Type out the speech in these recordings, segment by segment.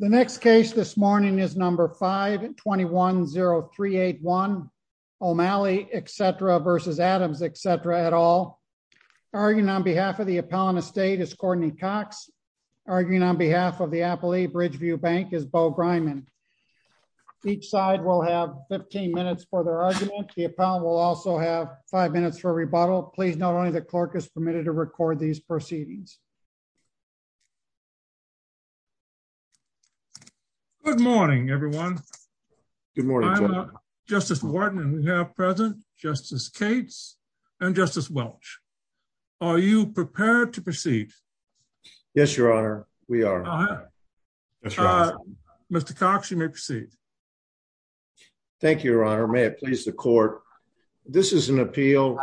The next case this morning is number 5210381 O'Malley etc. versus Adams etc. at all. Arguing on behalf of the appellant estate is Courtney Cox. Arguing on behalf of the Appalachia Bridgeview Bank is Bo Griman. Each side will have 15 minutes for their argument. The appellant will also have five minutes for a rebuttal. Please note only the clerk is permitted to record these proceedings. Good morning, everyone. Good morning, Justice Warden. We have President Justice Cates and Justice Welch. Are you prepared to proceed? Yes, Your Honor. We are. Uh huh. Mr Cox, you may proceed. Thank you, Your Honor. May it please the court. This is an appeal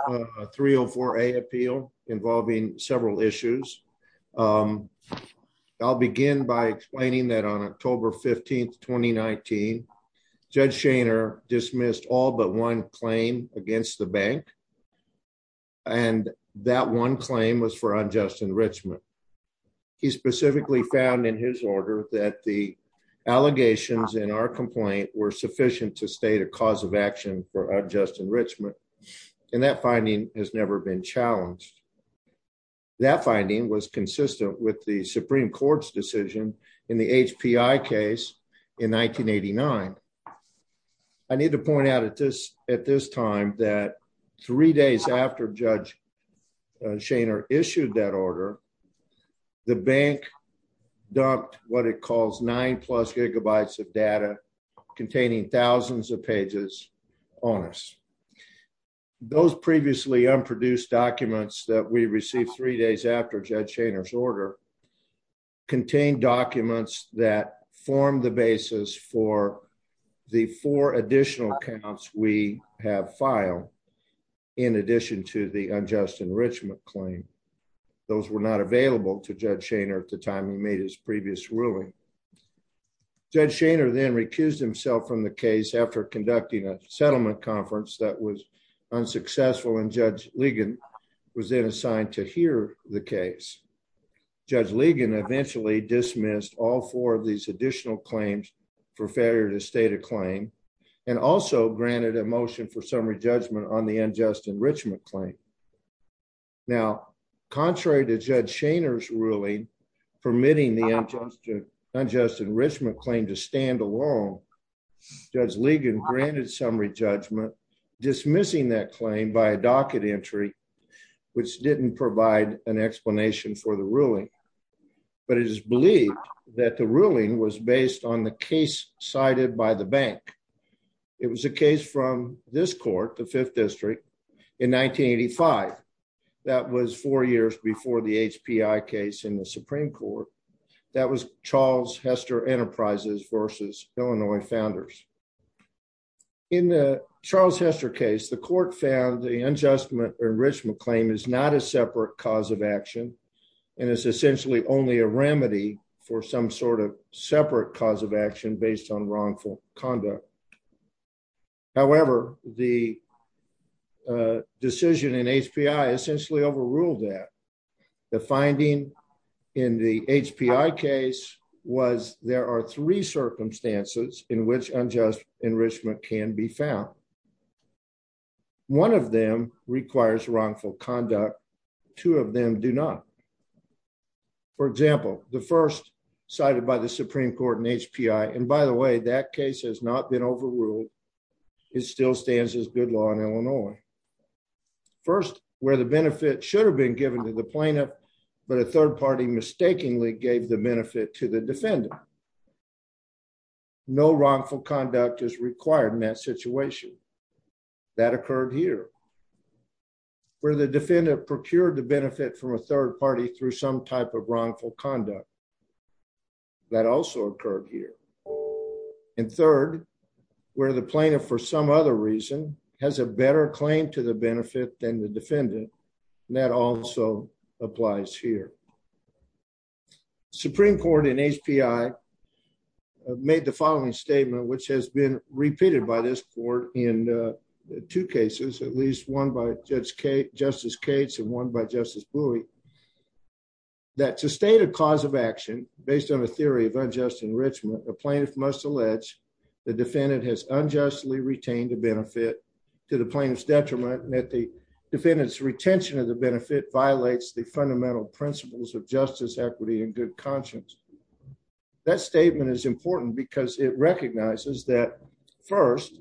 304 a appeal involving several issues. Um, I'll begin by explaining that on October 15th 2019 Judge Shaner dismissed all but one claim against the bank and that one claim was for unjust enrichment. He specifically found in his order that the allegations in our complaint were sufficient to state a cause of action for unjust enrichment. And that finding has never been challenged. That finding was consistent with the Supreme Court's decision in the H. P. I. Case in 1989. I need to point out at this at this time that three days after Judge Shaner issued that order, the bank dumped what it calls nine plus gigabytes of data containing thousands of pages on us. Those previously unproduced documents that we received three days after Judge Shaner's order contained documents that formed the basis for the four additional accounts we have filed in addition to the unjust enrichment claim. Those were not available to Judge Shaner at the time we made his previous ruling. Judge Shaner then recused himself from the case after conducting a settlement conference that was unsuccessful and Judge Ligon was then assigned to hear the case. Judge Ligon eventually dismissed all four of these additional claims for failure to state a claim and also granted a motion for summary judgment on the unjust enrichment claim. Now, contrary to Judge Shaner's ruling permitting the unjust, unjust enrichment claim to stand alone, Judge Ligon granted summary judgment, dismissing that claim by a docket entry, which didn't provide an explanation for the ruling. But it is believed that the ruling was based on the case cited by the bank. It was a case from this court, the Fifth District, in 1985. That was four years before the HPI case in the Supreme Court. That was Charles Hester Enterprises versus Illinois Founders. In the Charles Hester case, the court found the unjust enrichment claim is not a separate cause of action, and it's essentially only a remedy for some sort of separate cause of action based on wrongful conduct. However, the decision in HPI essentially overruled that the finding in the HPI case was there are three circumstances in which unjust enrichment can be found. One of them requires wrongful conduct. Two of them do not. For example, the first cited by the Supreme Court in HPI. And by the way, that case has not been overruled. It still stands as good law in Illinois. First, where the benefit should have been given to the plaintiff, but a third party mistakenly gave the benefit to the defendant. No wrongful conduct is required in that situation. That occurred here, where the defendant procured the benefit from a third party through some type of wrongful conduct. That also occurred here. And third, where the plaintiff, for some other reason, has a better claim to the benefit than the defendant. That also applies here. Supreme Court in HPI made the following statement, which has been repeated by this court in two cases, at least one by Justice Cates and one by Justice Bouie. That's a stated cause of action. Based on a theory of unjust enrichment, a plaintiff must allege the defendant has unjustly retained a benefit to the plaintiff's detriment, and that the defendant's retention of the benefit violates the fundamental principles of justice, equity and good conscience. That statement is important because it recognizes that first,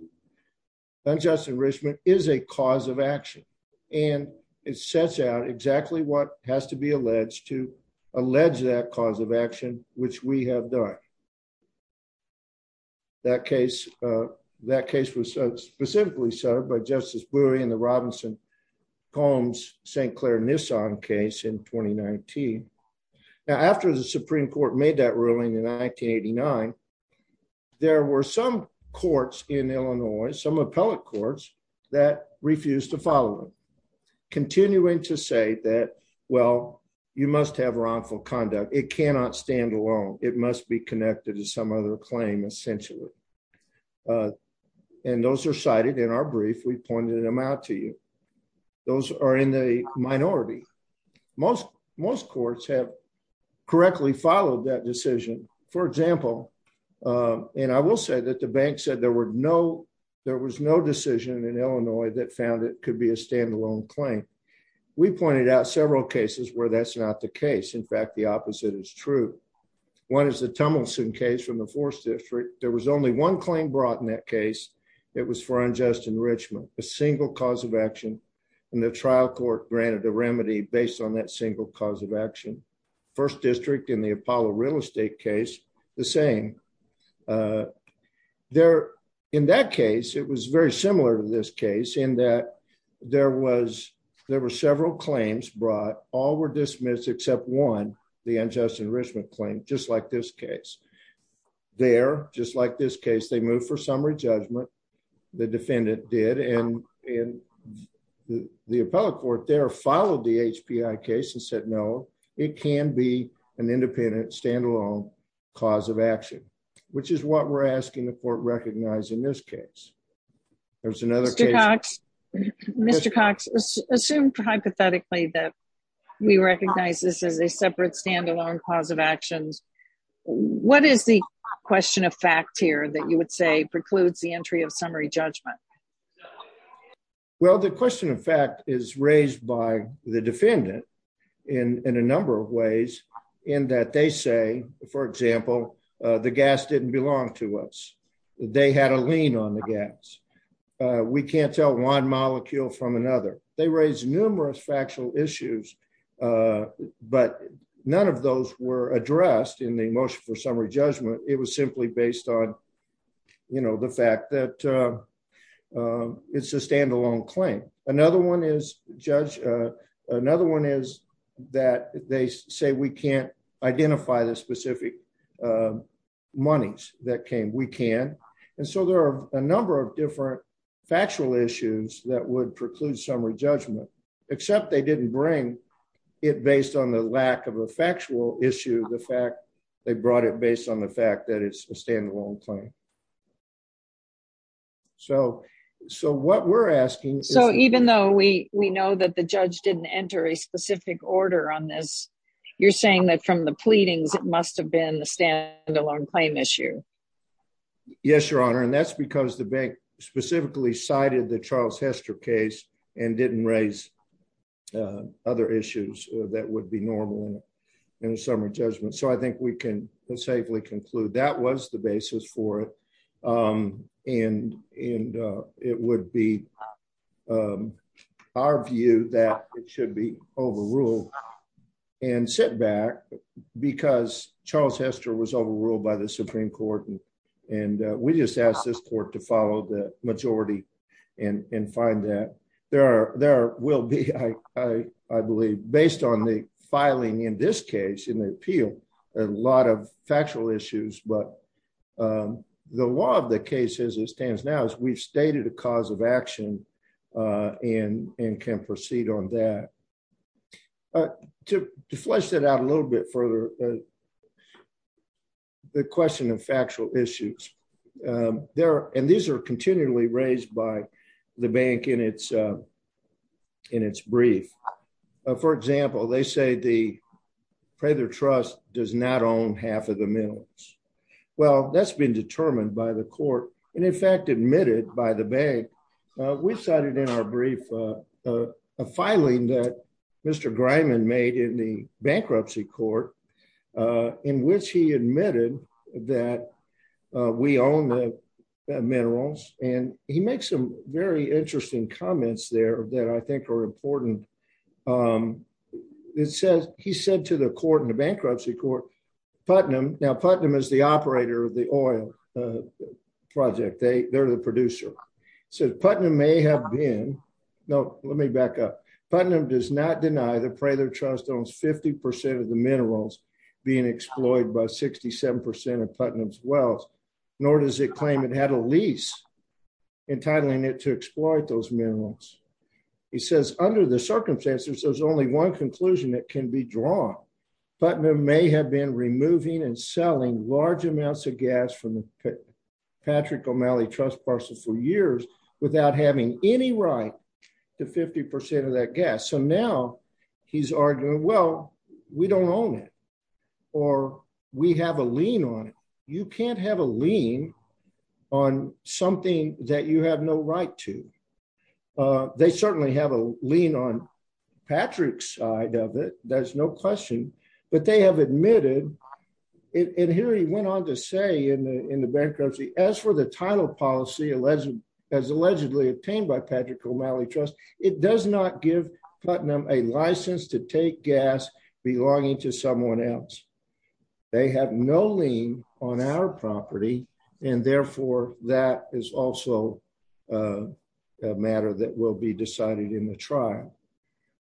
unjust enrichment is a cause of action, and it sets out exactly what has to be alleged to allege that cause of action, which we have done. That case, that case was specifically served by Justice Bouie and the Robinson Combs St. Clair Nissan case in 2019. Now, after the Supreme Court made that ruling in 1989, there were some courts in Illinois, some appellate courts, that refused to follow them, continuing to say that, well, you must have wrongful conduct. It cannot stand alone. It must be connected to some other claim, essentially. And those are cited in our brief. We pointed them out to you. Those are in the minority. Most most courts have correctly followed that decision. For example, uh, and I will say that the bank said there were no there was no decision in Illinois that found it could be a standalone claim. We pointed out several cases where that's not the case. In fact, the opposite is true. One is the Tummelson case from the fourth district. There was only one claim brought in that case. It was for unjust enrichment, a single cause of action, and the trial court granted a remedy based on that single cause of action. First district in the Apollo real estate case the same. Uh, there in that case, it was very similar to this case in that there was there were several claims brought. All were dismissed except one. The unjust enrichment claim, just like this case there. Just like this case, they moved for summary judgment. The defendant did, and and the appellate court there followed the H P I case and said, No, it can be an independent, standalone cause of action, which is what we're asking the court recognized in this case. There's another case. Mr Cox assumed hypothetically that we recognize this as a separate standalone cause of actions. What is the question of fact here that you would say precludes the entry of summary judgment? Well, the question of fact is raised by the defendant in a number of ways in that they say, for example, the gas didn't belong to us. They had a lean on the gas. We can't tell one molecule from another. They raised numerous factual issues, but none of those were addressed in the motion for summary judgment. It was simply based on, you know, the fact that, uh, it's a identify the specific, uh, monies that came. We can. And so there are a number of different factual issues that would preclude summary judgment, except they didn't bring it based on the lack of a factual issue. The fact they brought it based on the fact that it's a standalone claim. So so what we're asking, so even though we know that the judge didn't enter a pleadings, it must have been the stand alone claim issue. Yes, Your Honor. And that's because the bank specifically cited the Charles Hester case and didn't raise, uh, other issues that would be normal in the summer judgment. So I think we can safely conclude that was the basis for it. Um, and and, uh, it would be, um, our view that it should be overruled and sit back because Charles Hester was overruled by the Supreme Court. Andi, we just asked this court to follow the majority and find that there are there will be, I believe, based on the filing in this case in the appeal, a lot of factual issues. But, um, the law of the case is it stands now is we've stated a cause of action, uh, and and can proceed on that. Uh, to flesh it out a little bit further, uh, the question of factual issues. Um, there and these air continually raised by the bank in its, uh, in its brief. For example, they say the pray their trust does not own half of the mills. Well, that's been determined by the court and, in fact, admitted by the bank. We cited in our brief, uh, a filing that Mr Grime and made in the bankruptcy court, uh, in which he admitted that we own the minerals. And he makes some very interesting comments there that I think are important. Um, it says he said to the court in the bankruptcy court Putnam. Now, Putnam is the operator of the oil project. They're the producer said Putnam may have been. No, let me back up. Putnam does not deny the pray their trust owns 50% of the minerals being exploited by 67% of Putnam's wells, nor does it claim it had a lease entitling it to exploit those minerals, he says. Under the circumstances, there's only one conclusion that can be drawn. Putnam may have been removing and selling large amounts of gas from Patrick O'Malley Trust parcels for years without having any right to 50% of that gas. So now he's arguing, Well, we don't own it or we have a lean on it. You can't have a lean on something that you have no right to. Uh, they certainly have a lean on Patrick's side of it. There's no question. But they have admitted it. And here he went on to say in the bankruptcy, as for the title policy, alleged as allegedly obtained by Patrick O'Malley Trust, it does not give Putnam a license to take gas belonging to someone else. They have no lien on our property, and therefore that is also a matter that will be decided in the trial.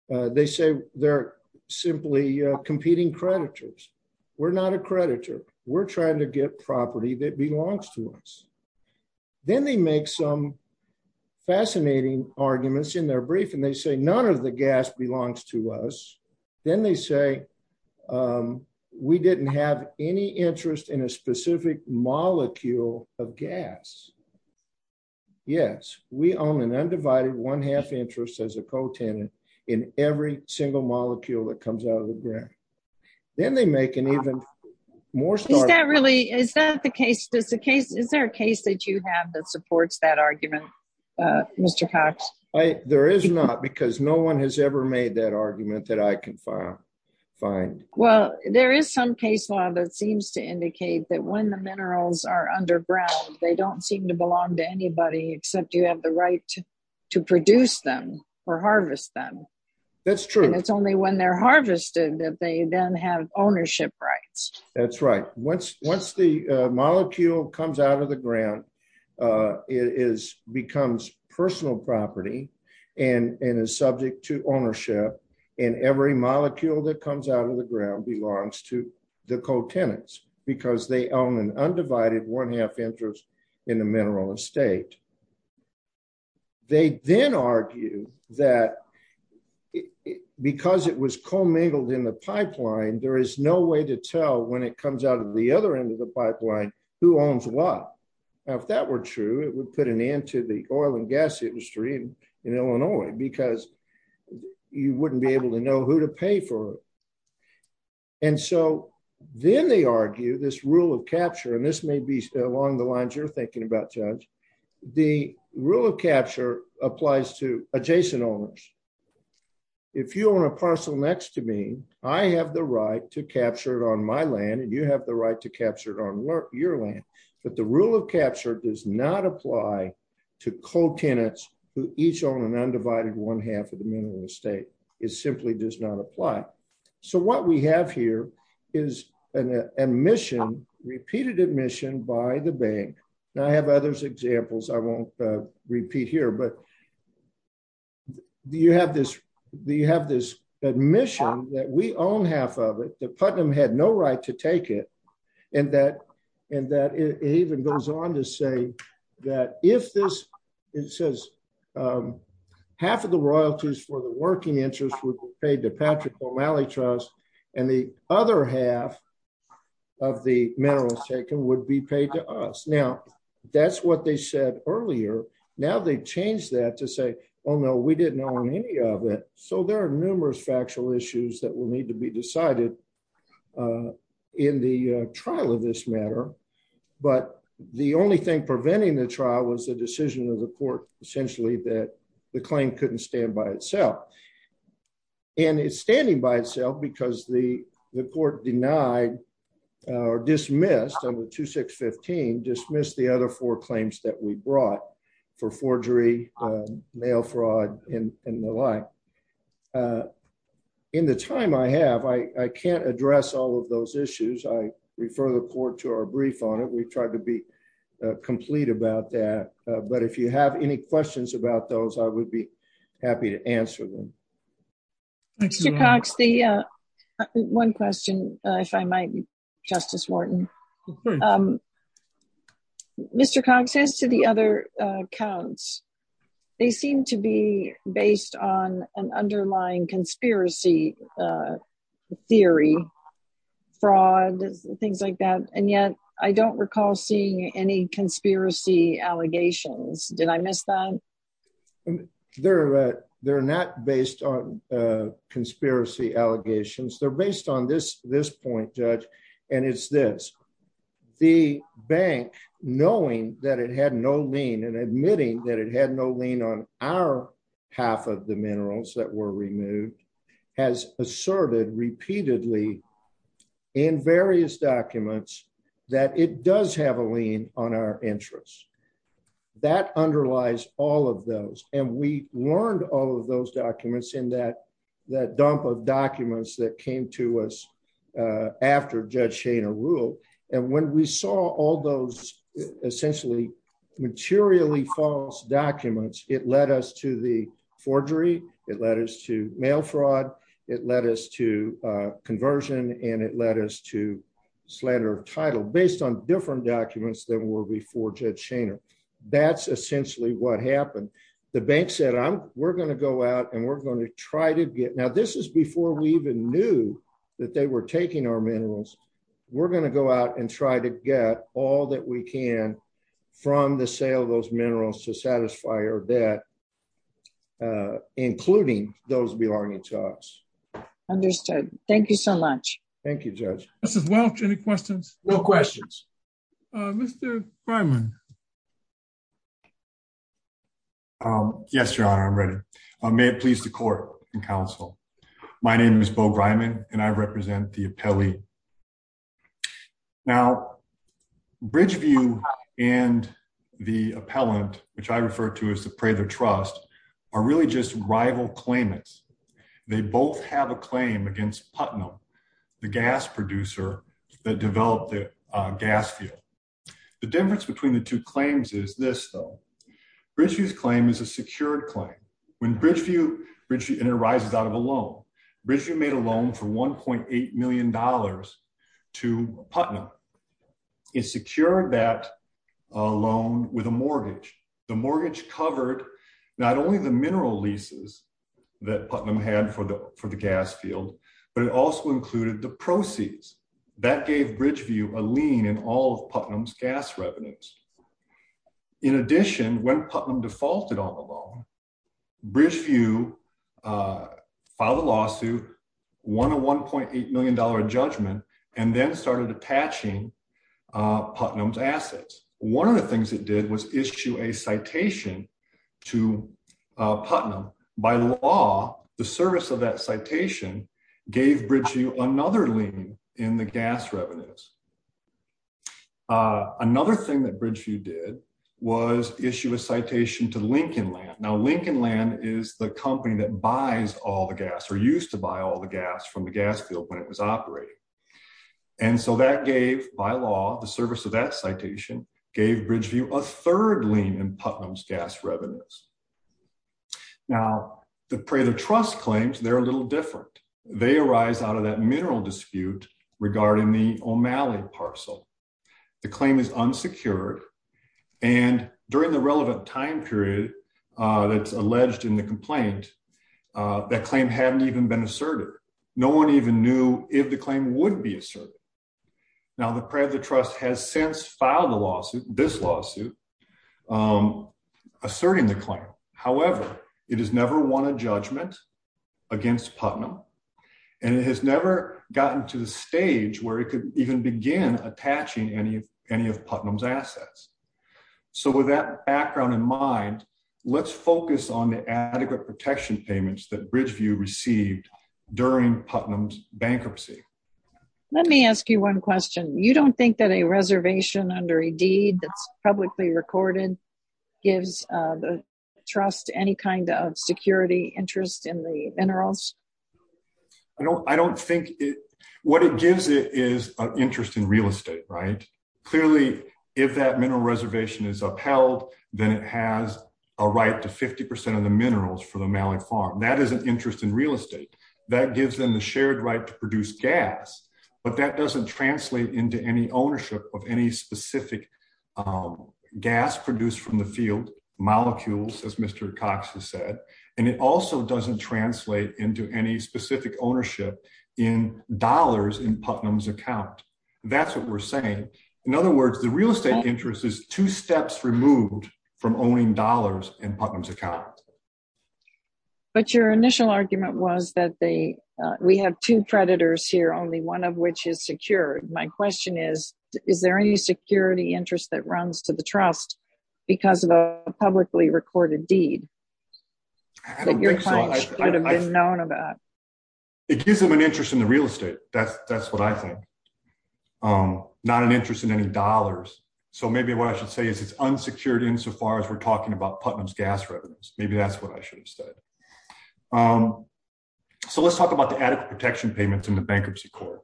They say they're simply competing creditors. We're not a creditor. We're trying to get property that belongs to us. Then they make some fascinating arguments in their brief, and they say none of the gas belongs to us. Then they say, um, we didn't have any interest in a specific molecule of gas. Yes, we own an undivided one half interest as a pro tenant in every single molecule that comes out of the ground. Then they make an even more. Is that really? Is that the case? Does the case? Is there a case that you have that supports that argument, Mr Cox? There is not, because no one has ever made that argument that I can find. Well, there is some case law that seems to indicate that when the minerals are underground, they don't seem to belong to anybody except you have the right to produce them or harvest them. That's true. It's only when they're harvested that they then have ownership rights. That's right. Once once the molecule comes out of the ground, uh, is becomes personal property and is subject to ownership. And every molecule that comes out of the ground belongs to the co tenants because they own an undivided one half interest in the mineral estate. They then argue that because it was commingled in the pipeline, there is no way to tell when it comes out of the other end of the pipeline who owns what? If that were true, it would put an end to the oil and gas industry in Illinois because you wouldn't be able to know who to pay for it. And so then they argue this rule of capture, and this may be along the lines you're thinking about judge. The rule of capture applies to adjacent owners. If you own a parcel next to me, I have the right to capture it on my land, and you have the right to capture it on your land. But the rule of capture does not apply to co tenants who each own an undivided one half of the mineral estate. It simply does not apply. So what we have here is an admission, repeated admission by the bank. Now I have others examples. I won't repeat here, but you have this admission that we own half of it, that Putnam had no right to take it, and that it even goes on to say that if this, it says half of the royalties for the working interest would be paid to Patrick O'Malley Trust, and the other half of the minerals taken would be paid to us. Now, that's what they said earlier. Now they've changed that to say, oh, no, we didn't own any of it. So there are numerous factual issues that will need to be decided in the trial of this matter. But the only thing preventing the trial was the decision of the court, essentially, that the claim couldn't stand by itself. And it's standing by itself because the court denied or dismissed the other four claims that we brought for forgery, mail fraud, and the like. In the time I have, I can't address all of those issues. I refer the court to our brief on it. We've tried to be complete about that. But if you have any questions about those, I would be happy to answer them. Mr. Cox, one question, if I might, Justice Wharton. Mr. Cox, as to the other counts, they seem to be based on an underlying conspiracy theory, fraud, things like that. And yet, I don't recall seeing any conspiracy allegations. Did I miss that? They're not based on conspiracy allegations. They're based on this point, Judge. And it's this. The bank, knowing that it had no lien and admitting that it had no lien on our half of the minerals that were removed, has asserted repeatedly in various documents that it does have a lien on our interests. That underlies all of those. And we learned all of those documents in that that dump of documents that came to us after Judge Shaner ruled. And when we saw all those essentially materially false documents, it led us to the forgery. It led us to mail fraud. It led us to conversion. And it led us to based on different documents that were before Judge Shaner. That's essentially what happened. The bank said, we're going to go out and we're going to try to get. Now, this is before we even knew that they were taking our minerals. We're going to go out and try to get all that we can from the sale of those minerals to satisfy our debt, including those belonging to us. Understood. Thank you so much. Any questions? No questions. Mr. Breiman. Yes, Your Honor, I'm ready. May it please the court and counsel. My name is Beau Breiman and I represent the appellee. Now, Bridgeview and the appellant, which I refer to as the Prather Trust, are really just rival claimants. They both have a gas field. The difference between the two claims is this, though. Bridgeview's claim is a secured claim. When Bridgeview, and it arises out of a loan. Bridgeview made a loan for $1.8 million to Putnam. It secured that loan with a mortgage. The mortgage covered not only the mineral leases that Putnam had for the gas field, but it also included the proceeds. That gave Bridgeview a lien in all of Putnam's gas revenues. In addition, when Putnam defaulted on the loan, Bridgeview filed a lawsuit, won a $1.8 million judgment, and then started attaching Putnam's assets. One of the things it did was issue a citation to Putnam. By law, the service of that citation gave Bridgeview another lien in the gas revenues. Another thing that Bridgeview did was issue a citation to Lincoln Land. Now, Lincoln Land is the company that buys all the gas, or used to buy all the gas from the gas field when it was operating. And so that gave, by law, the service of that citation gave Bridgeview a third lien in Putnam's gas revenues. Now, the Prather Trust claims they're a little different. They arise out of that mineral dispute regarding the O'Malley parcel. The claim is unsecured, and during the relevant time period that's alleged in the complaint, that claim hadn't even been asserted. No one even knew if the claim would be asserted. Now, the Prather Trust has since filed a lawsuit, this lawsuit, asserting the claim. However, it has never won a judgment against Putnam, and it has never gotten to the stage where it could even begin attaching any of Putnam's assets. So with that background in mind, let's focus on the adequate protection payments that Bridgeview received during Putnam's bankruptcy. Let me ask you one question. You don't think that a reservation under a deed that's publicly recorded gives the trust any kind of security interest in the minerals? I don't think it... What it gives it is an interest in real estate, right? Clearly, if that mineral reservation is upheld, then it has a right to 50% of the minerals for the O'Malley farm. That is an interest in real estate. That gives them the shared right to produce gas, but that doesn't translate into any ownership of any specific gas produced from the field, molecules, as Mr. Cox has said, and it also doesn't translate into any specific ownership in dollars in Putnam's account. That's what we're saying. In other words, the real estate interest is two steps removed from owning dollars in Putnam's that they... We have two creditors here, only one of which is secured. My question is, is there any security interest that runs to the trust because of a publicly recorded deed that your client should have been known about? I don't think so. It gives them an interest in the real estate. That's what I think. Not an interest in any dollars. So maybe what I should say is it's unsecured insofar as we're talking about Putnam's gas revenues. Maybe that's what I should have said. So let's talk about the adequate protection payments in the bankruptcy court.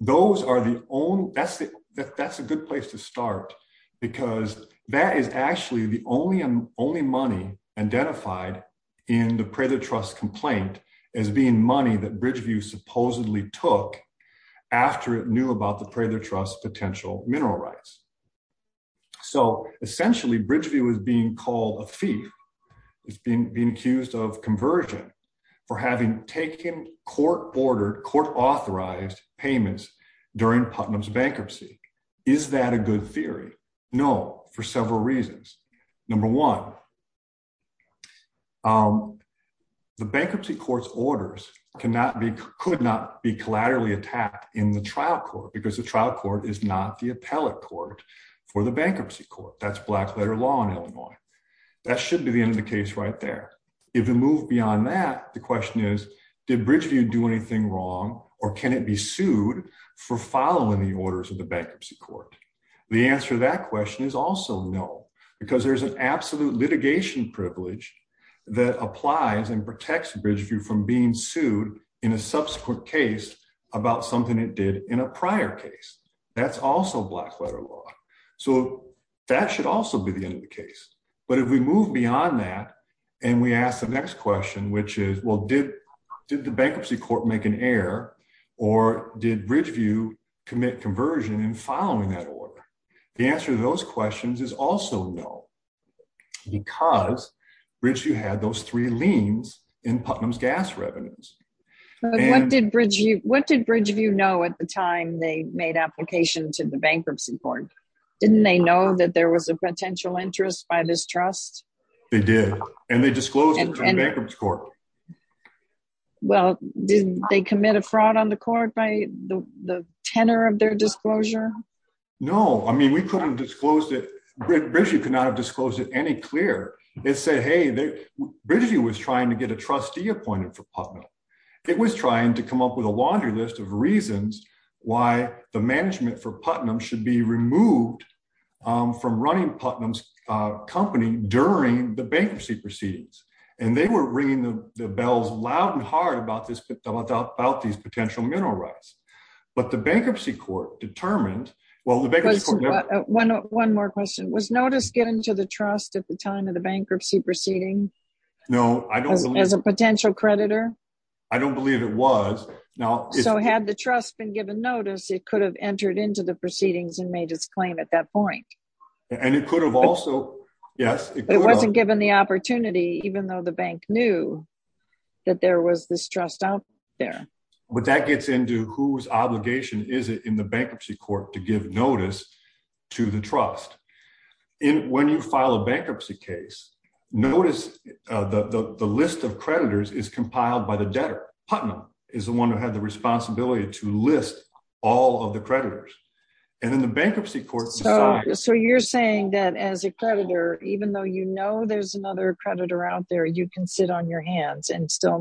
Those are the only... That's a good place to start because that is actually the only money identified in the Prather Trust complaint as being money that Bridgeview supposedly took after it knew about the Prather Trust's potential mineral rights. So essentially, Bridgeview is being called a thief. It's being accused of conversion for having taken court-ordered, court-authorized payments during Putnam's bankruptcy. Is that a good theory? No, for several reasons. Number one, the bankruptcy court's orders could not be for the bankruptcy court. That's black letter law in Illinois. That should be the end of the case right there. If you move beyond that, the question is, did Bridgeview do anything wrong or can it be sued for following the orders of the bankruptcy court? The answer to that question is also no because there's an absolute litigation privilege that applies and protects Bridgeview from being sued in a subsequent case about something it did in a prior case. That's also black letter law. So that should also be the end of the case. But if we move beyond that and we ask the next question, which is, well, did the bankruptcy court make an error or did Bridgeview commit conversion in following that order? The answer to those questions is also no because Bridgeview had those three liens in Putnam's gas revenues. What did Bridgeview know at the time they made application to the bankruptcy court? Didn't they know that there was a potential interest by this trust? They did and they disclosed it to the bankruptcy court. Well, did they commit a fraud on the court by the tenor of their disclosure? No, I mean, we couldn't disclose it. Bridgeview could not have disclosed it any clear. It said, hey, Bridgeview was trying to get a trustee appointed for Putnam. It was trying to come up with a laundry list of reasons why the management for Putnam should be removed from running Putnam's company during the bankruptcy proceedings. And they were ringing the bells loud and hard about these potential mineral rights. But the bankruptcy court determined. Well, one more question. Was notice given to the trust at the time of the bankruptcy proceeding? No, I don't. As a potential creditor? I don't believe it was. Now, so had the trust been given notice, it could have entered into the proceedings and made its claim at that point. And it could have also. Yes, it wasn't given the opportunity, even though the bankruptcy court to give notice to the trust. When you file a bankruptcy case, notice the list of creditors is compiled by the debtor. Putnam is the one who had the responsibility to list all of the creditors. And then the bankruptcy court. So you're saying that as a creditor, even though, you know, there's another creditor out there, you can sit on your hands and still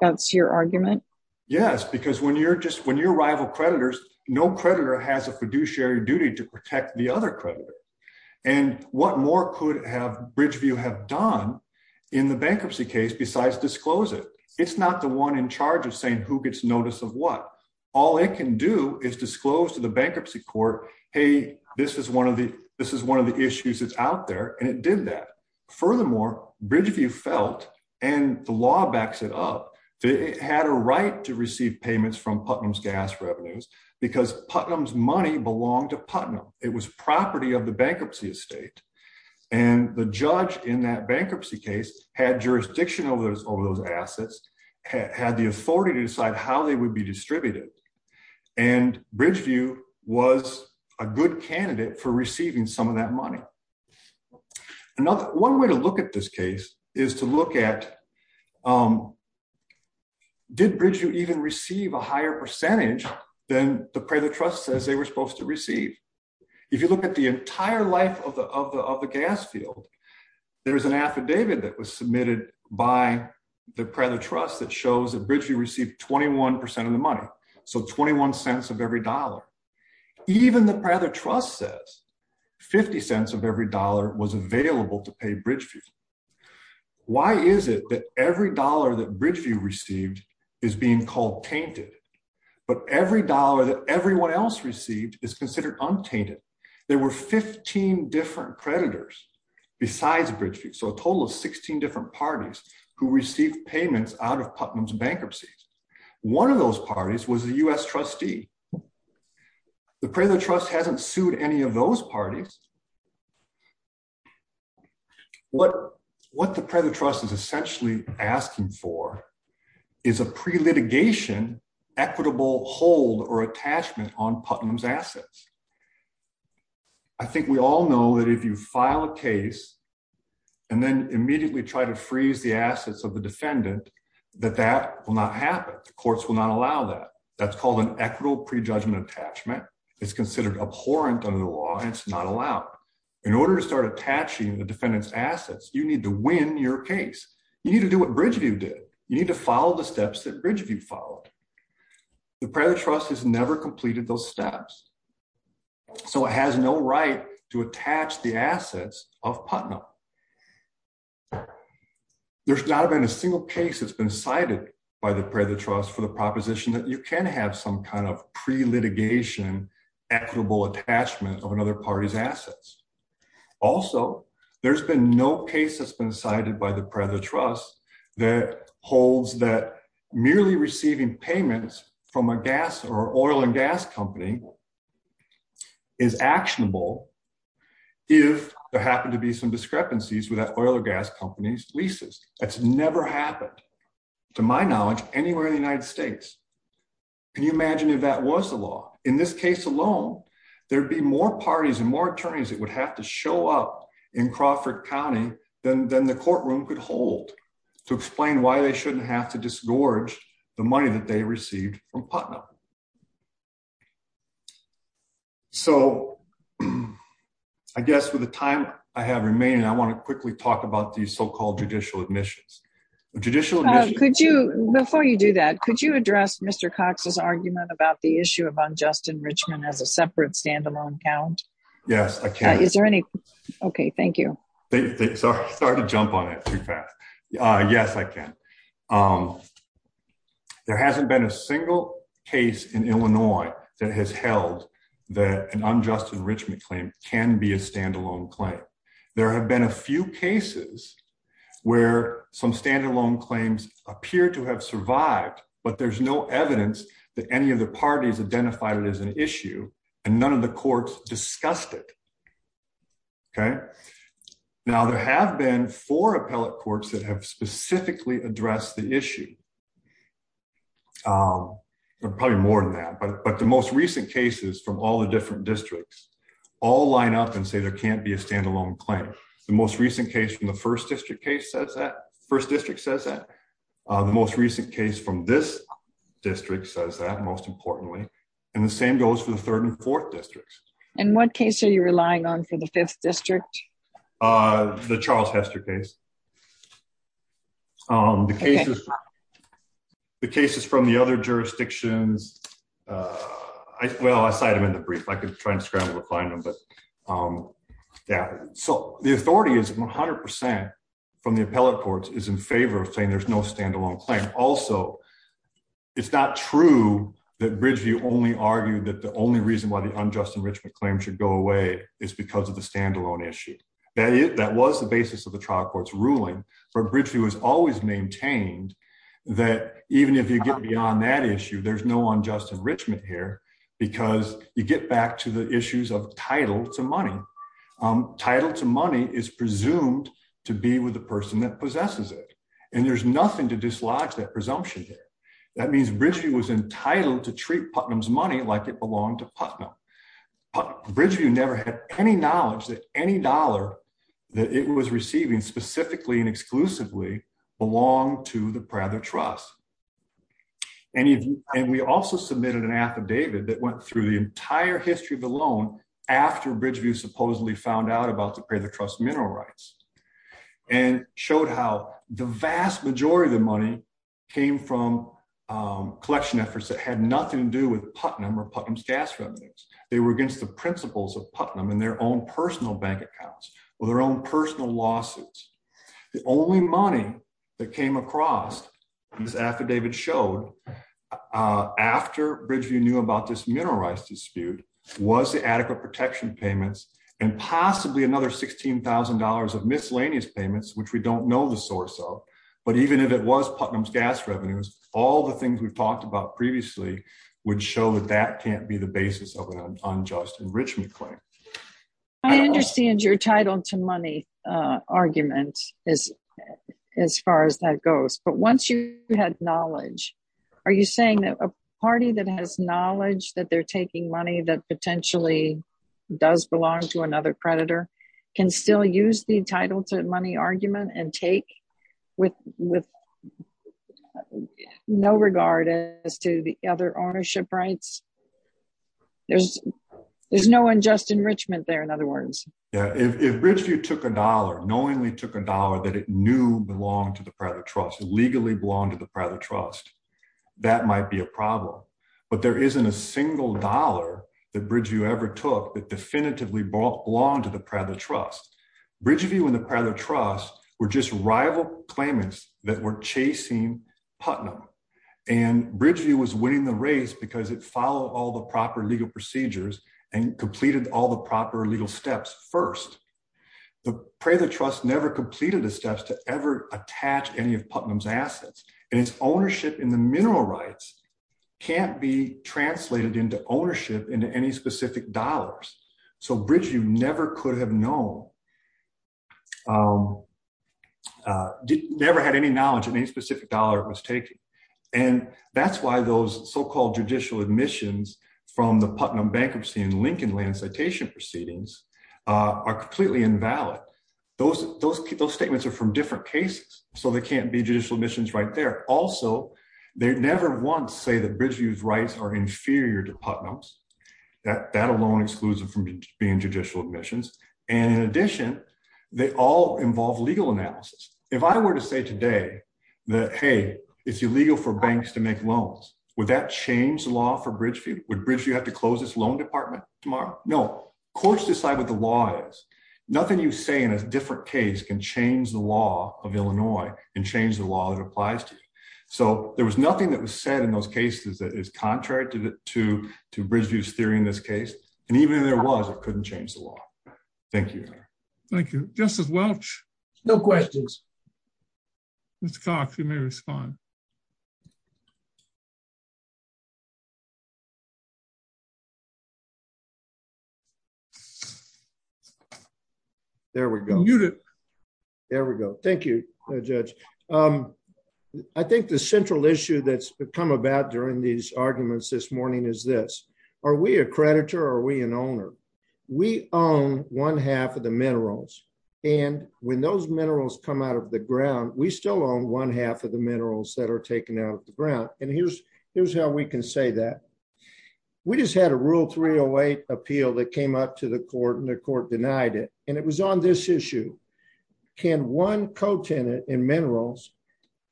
that's your argument? Yes, because when you're just when you're rival creditors, no creditor has a fiduciary duty to protect the other creditor. And what more could have Bridgeview have done in the bankruptcy case besides disclose it? It's not the one in charge of saying who gets notice of what all it can do is disclose to the bankruptcy court. Hey, this is one of the this is one of the issues that's out there. And it did that. Furthermore, Bridgeview felt and the law backs it up. It had a right to receive payments from Putnam's gas revenues, because Putnam's money belonged to Putnam. It was property of the bankruptcy estate. And the judge in that bankruptcy case had jurisdiction over those over those assets, had the authority to decide how they would be distributed. And Bridgeview was a good candidate for receiving some of that money. Another one way to look at this case is to look at did Bridgeview even receive a higher percentage than the credit trust says they were supposed to receive? If you look at the entire life of the of the gas field, there's an affidavit that was submitted by the credit trust that shows that Bridgeview received 21% of the money. So $0.50 of every dollar was available to pay Bridgeview. Why is it that every dollar that Bridgeview received is being called tainted. But every dollar that everyone else received is considered untainted. There were 15 different creditors, besides Bridgeview, so a total of 16 different parties who received payments out of Putnam's bankruptcy. One of those parties was the U.S. trustee. The credit trust hasn't sued any of those parties. What the credit trust is essentially asking for is a pre-litigation equitable hold or attachment on Putnam's assets. I think we all know that if you file a case and then immediately try to freeze the assets of the defendant, that that will not happen. The courts will not allow that. That's called an equitable prejudgment attachment. It's considered abhorrent under the law and it's not allowed. In order to start attaching the defendant's assets, you need to win your case. You need to do what Bridgeview did. You need to follow the steps that Bridgeview followed. The credit trust has never completed those steps. So it has no right to attach the assets of Putnam. There's not been a single case that's been cited by the credit trust for the proposition that you can have some kind of pre-litigation equitable attachment of another party's assets. Also, there's been no case that's been cited by the credit trust that holds that merely receiving payments from a gas or oil and gas company is actionable if there happen to be some discrepancies with that oil or gas company's leases. That's never happened to my knowledge anywhere in the United States. Can you imagine if that was the law? In this case alone, there'd be more parties and more attorneys that would have to show up in Crawford County than the courtroom could hold to explain why they shouldn't have to disgorge the money that they received from Putnam. So, I guess with the time I have remaining, I want to quickly talk about these so-called judicial admissions. Judicial admissions- Before you do that, could you address Mr. Cox's argument about the issue of unjust enrichment as a separate standalone account? Yes, I can. Is there any? Okay, thank you. Sorry to jump on it too fast. Yes, I can. There hasn't been a single case in Illinois that has held that an unjust enrichment claim can be a standalone claim. There have been a few cases where some standalone claims appear to have survived, but there's no evidence that any of the parties identified it as an issue and none of the courts discussed it. Now, there have been four appellate courts that have specifically addressed the issue. There are probably more than that, but the most recent cases from all the different districts all line up and say there can't be a standalone claim. The most recent case from the first district says that. The most recent case from this district says that, most importantly, and the same goes for the third and fourth districts. And what case are you relying on for the fifth district? The Charles Hester case. The cases from the other jurisdictions, well, I cited them in the brief. I could try and scramble to find them, but yeah, so the authority is 100% from the appellate courts is in favor of saying there's no standalone claim. Also, it's not true that Bridgeview only argued that the only reason why the unjust enrichment claim should go away is because of the standalone issue. That was the basis of the trial court's ruling, but Bridgeview has always maintained that even if you get beyond that issue, there's no unjust enrichment here because you get back to the issues of title to money. Title to money is presumed to be with the person that possesses it, and there's nothing to dislodge that presumption there. That means Bridgeview was entitled to treat Putnam's money like it was. Bridgeview never had any knowledge that any dollar that it was receiving specifically and exclusively belonged to the Prather Trust. And we also submitted an affidavit that went through the entire history of the loan after Bridgeview supposedly found out about the Prather Trust mineral rights and showed how the vast majority of the money came from collection efforts that had nothing to do with Putnam or Putnam's gas revenues. They were against the principles of Putnam and their own personal bank accounts or their own personal lawsuits. The only money that came across, this affidavit showed, after Bridgeview knew about this mineral rights dispute was the adequate protection payments and possibly another $16,000 of miscellaneous payments, which we don't know the source of, but even if it was Putnam's gas revenues, all the things we've talked about previously would show that that can't be the basis of an unjust enrichment claim. I understand your title to money argument as far as that goes, but once you had knowledge, are you saying that a party that has knowledge that they're taking money that potentially does belong to another predator can still use the title to money argument and take with no regard as to the other ownership rights? There's no unjust enrichment there, in other words. Yeah, if Bridgeview took a dollar, knowingly took a dollar that it knew belonged to the Prather Trust, legally belonged to the Prather Trust, that might be a problem, but there isn't a single dollar that Bridgeview ever took that definitively belonged to the Prather Trust were just rival claimants that were chasing Putnam, and Bridgeview was winning the race because it followed all the proper legal procedures and completed all the proper legal steps first. The Prather Trust never completed the steps to ever attach any of Putnam's assets, and its ownership in the mineral rights can't be translated into ownership into any specific dollars, so Bridgeview never had any knowledge of any specific dollar it was taking, and that's why those so-called judicial admissions from the Putnam bankruptcy and Lincolnland citation proceedings are completely invalid. Those statements are from different cases, so there can't be judicial admissions right there. Also, they never once say that Bridgeview's rights are inferior to Putnam's. That alone excludes them from being judicial admissions, and in addition, they all involve legal analysis. If I were to say today that, hey, it's illegal for banks to make loans, would that change the law for Bridgeview? Would Bridgeview have to close this loan department tomorrow? No. Courts decide what the law is. Nothing you say in a different case can change the law of Illinois and change the law that applies to you, so there was nothing that was said in those cases that is contrary to Bridgeview's theory in this case, and even if there was, it couldn't change the law. Thank you. Thank you. Justice Welch? No questions. Mr. Cox, you may respond. There we go. There we go. Thank you, Judge. I think the central issue that's become about during these arguments this morning is this. Are we a creditor, or are we an owner? We own one half of the minerals, and when those minerals come out of the ground, we still own one half of the minerals that are taken out of the ground, and here's how we can say that. We just had a Rule 308 appeal that came up to the court, and the court denied it, and it was on this issue. Can one co-tenant in minerals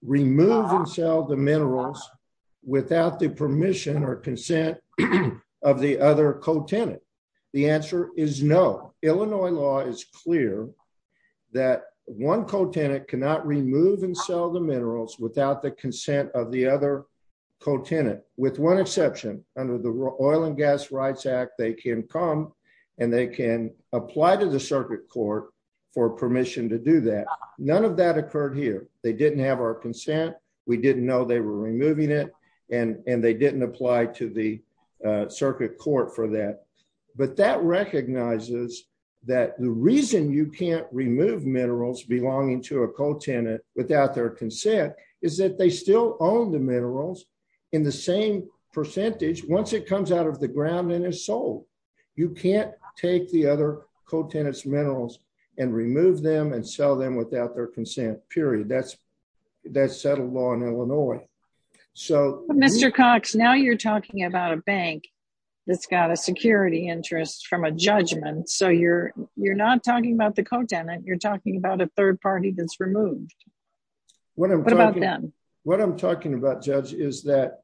remove and sell the minerals without the permission or consent of the other co-tenant? The answer is no. Illinois law is clear that one co-tenant cannot remove and sell the minerals without the consent of the other co-tenant, with one exception. Under the Oil and Gas Act, there was no permission to do that. None of that occurred here. They didn't have our consent. We didn't know they were removing it, and they didn't apply to the circuit court for that, but that recognizes that the reason you can't remove minerals belonging to a co-tenant without their consent is that they still own the minerals in the same percentage once it comes out of the circuit court. That's settled law in Illinois. Mr. Cox, now you're talking about a bank that's got a security interest from a judgment, so you're not talking about the co-tenant. You're talking about a third party that's removed. What about them? What I'm talking about, Judge, is that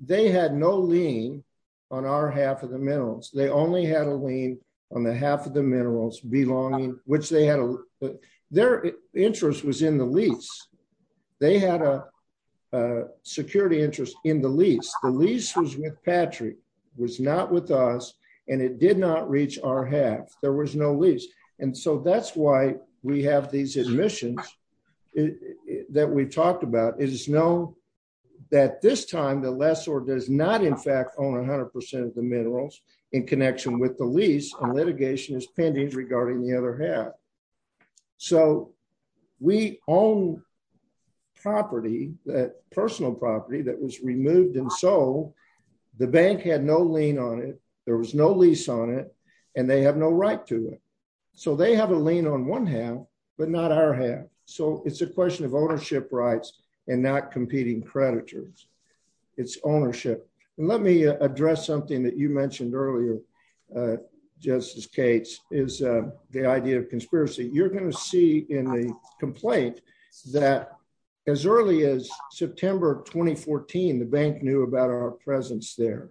they had no lien on our half of the minerals. They only had a lien on the half of the minerals belonging, which their interest was in the lease. They had a security interest in the lease. The lease was with Patrick, was not with us, and it did not reach our half. There was no lease, and so that's why we have these admissions that we've talked about. It is known that this time the lessor does not in fact own 100% of the minerals in connection with the lease, and so we own personal property that was removed and sold. The bank had no lien on it. There was no lease on it, and they have no right to it, so they have a lien on one half, but not our half, so it's a question of ownership rights and not competing creditors. It's ownership. Let me the idea of conspiracy. You're going to see in the complaint that as early as September 2014, the bank knew about our presence there.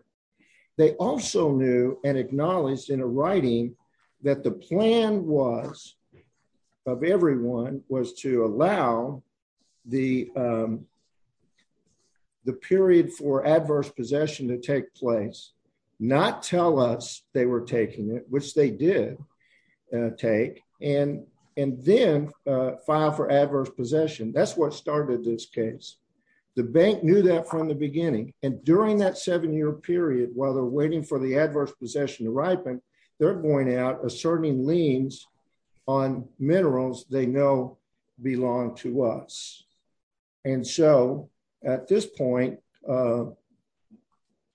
They also knew and acknowledged in a writing that the plan was of everyone was to allow the period for adverse possession to take place, not tell us they were taking it, which they did take, and then file for adverse possession. That's what started this case. The bank knew that from the beginning, and during that seven-year period while they're waiting for the adverse possession to ripen, they're going out asserting liens on minerals they know belong to us, and so at this point,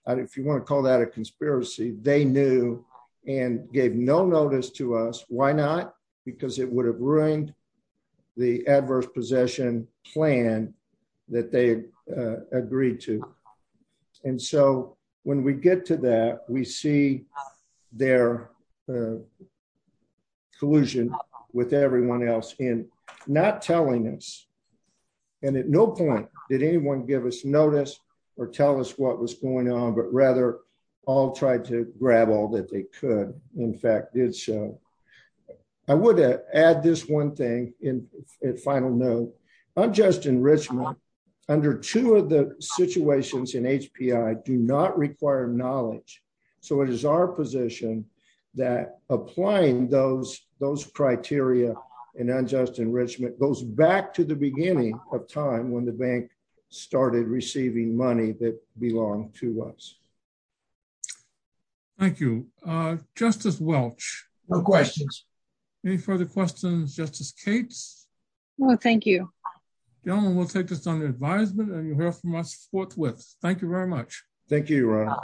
if you want to call that a conspiracy, they knew and gave no notice to us. Why not? Because it would have ruined the adverse possession plan that they had agreed to, and so when we get to we see their collusion with everyone else in not telling us, and at no point did anyone give us notice or tell us what was going on, but rather all tried to grab all that they could. In fact, did so. I would add this one thing in final note. I'm just in Richmond. Under two of the so it is our position that applying those criteria and unjust enrichment goes back to the beginning of time when the bank started receiving money that belonged to us. Thank you. Justice Welch? No questions. Any further questions? Justice Cates? No, thank you. Gentlemen, we'll take this under advisement, and you'll hear from us forthwith. Thank you very much. Thank you, Ron.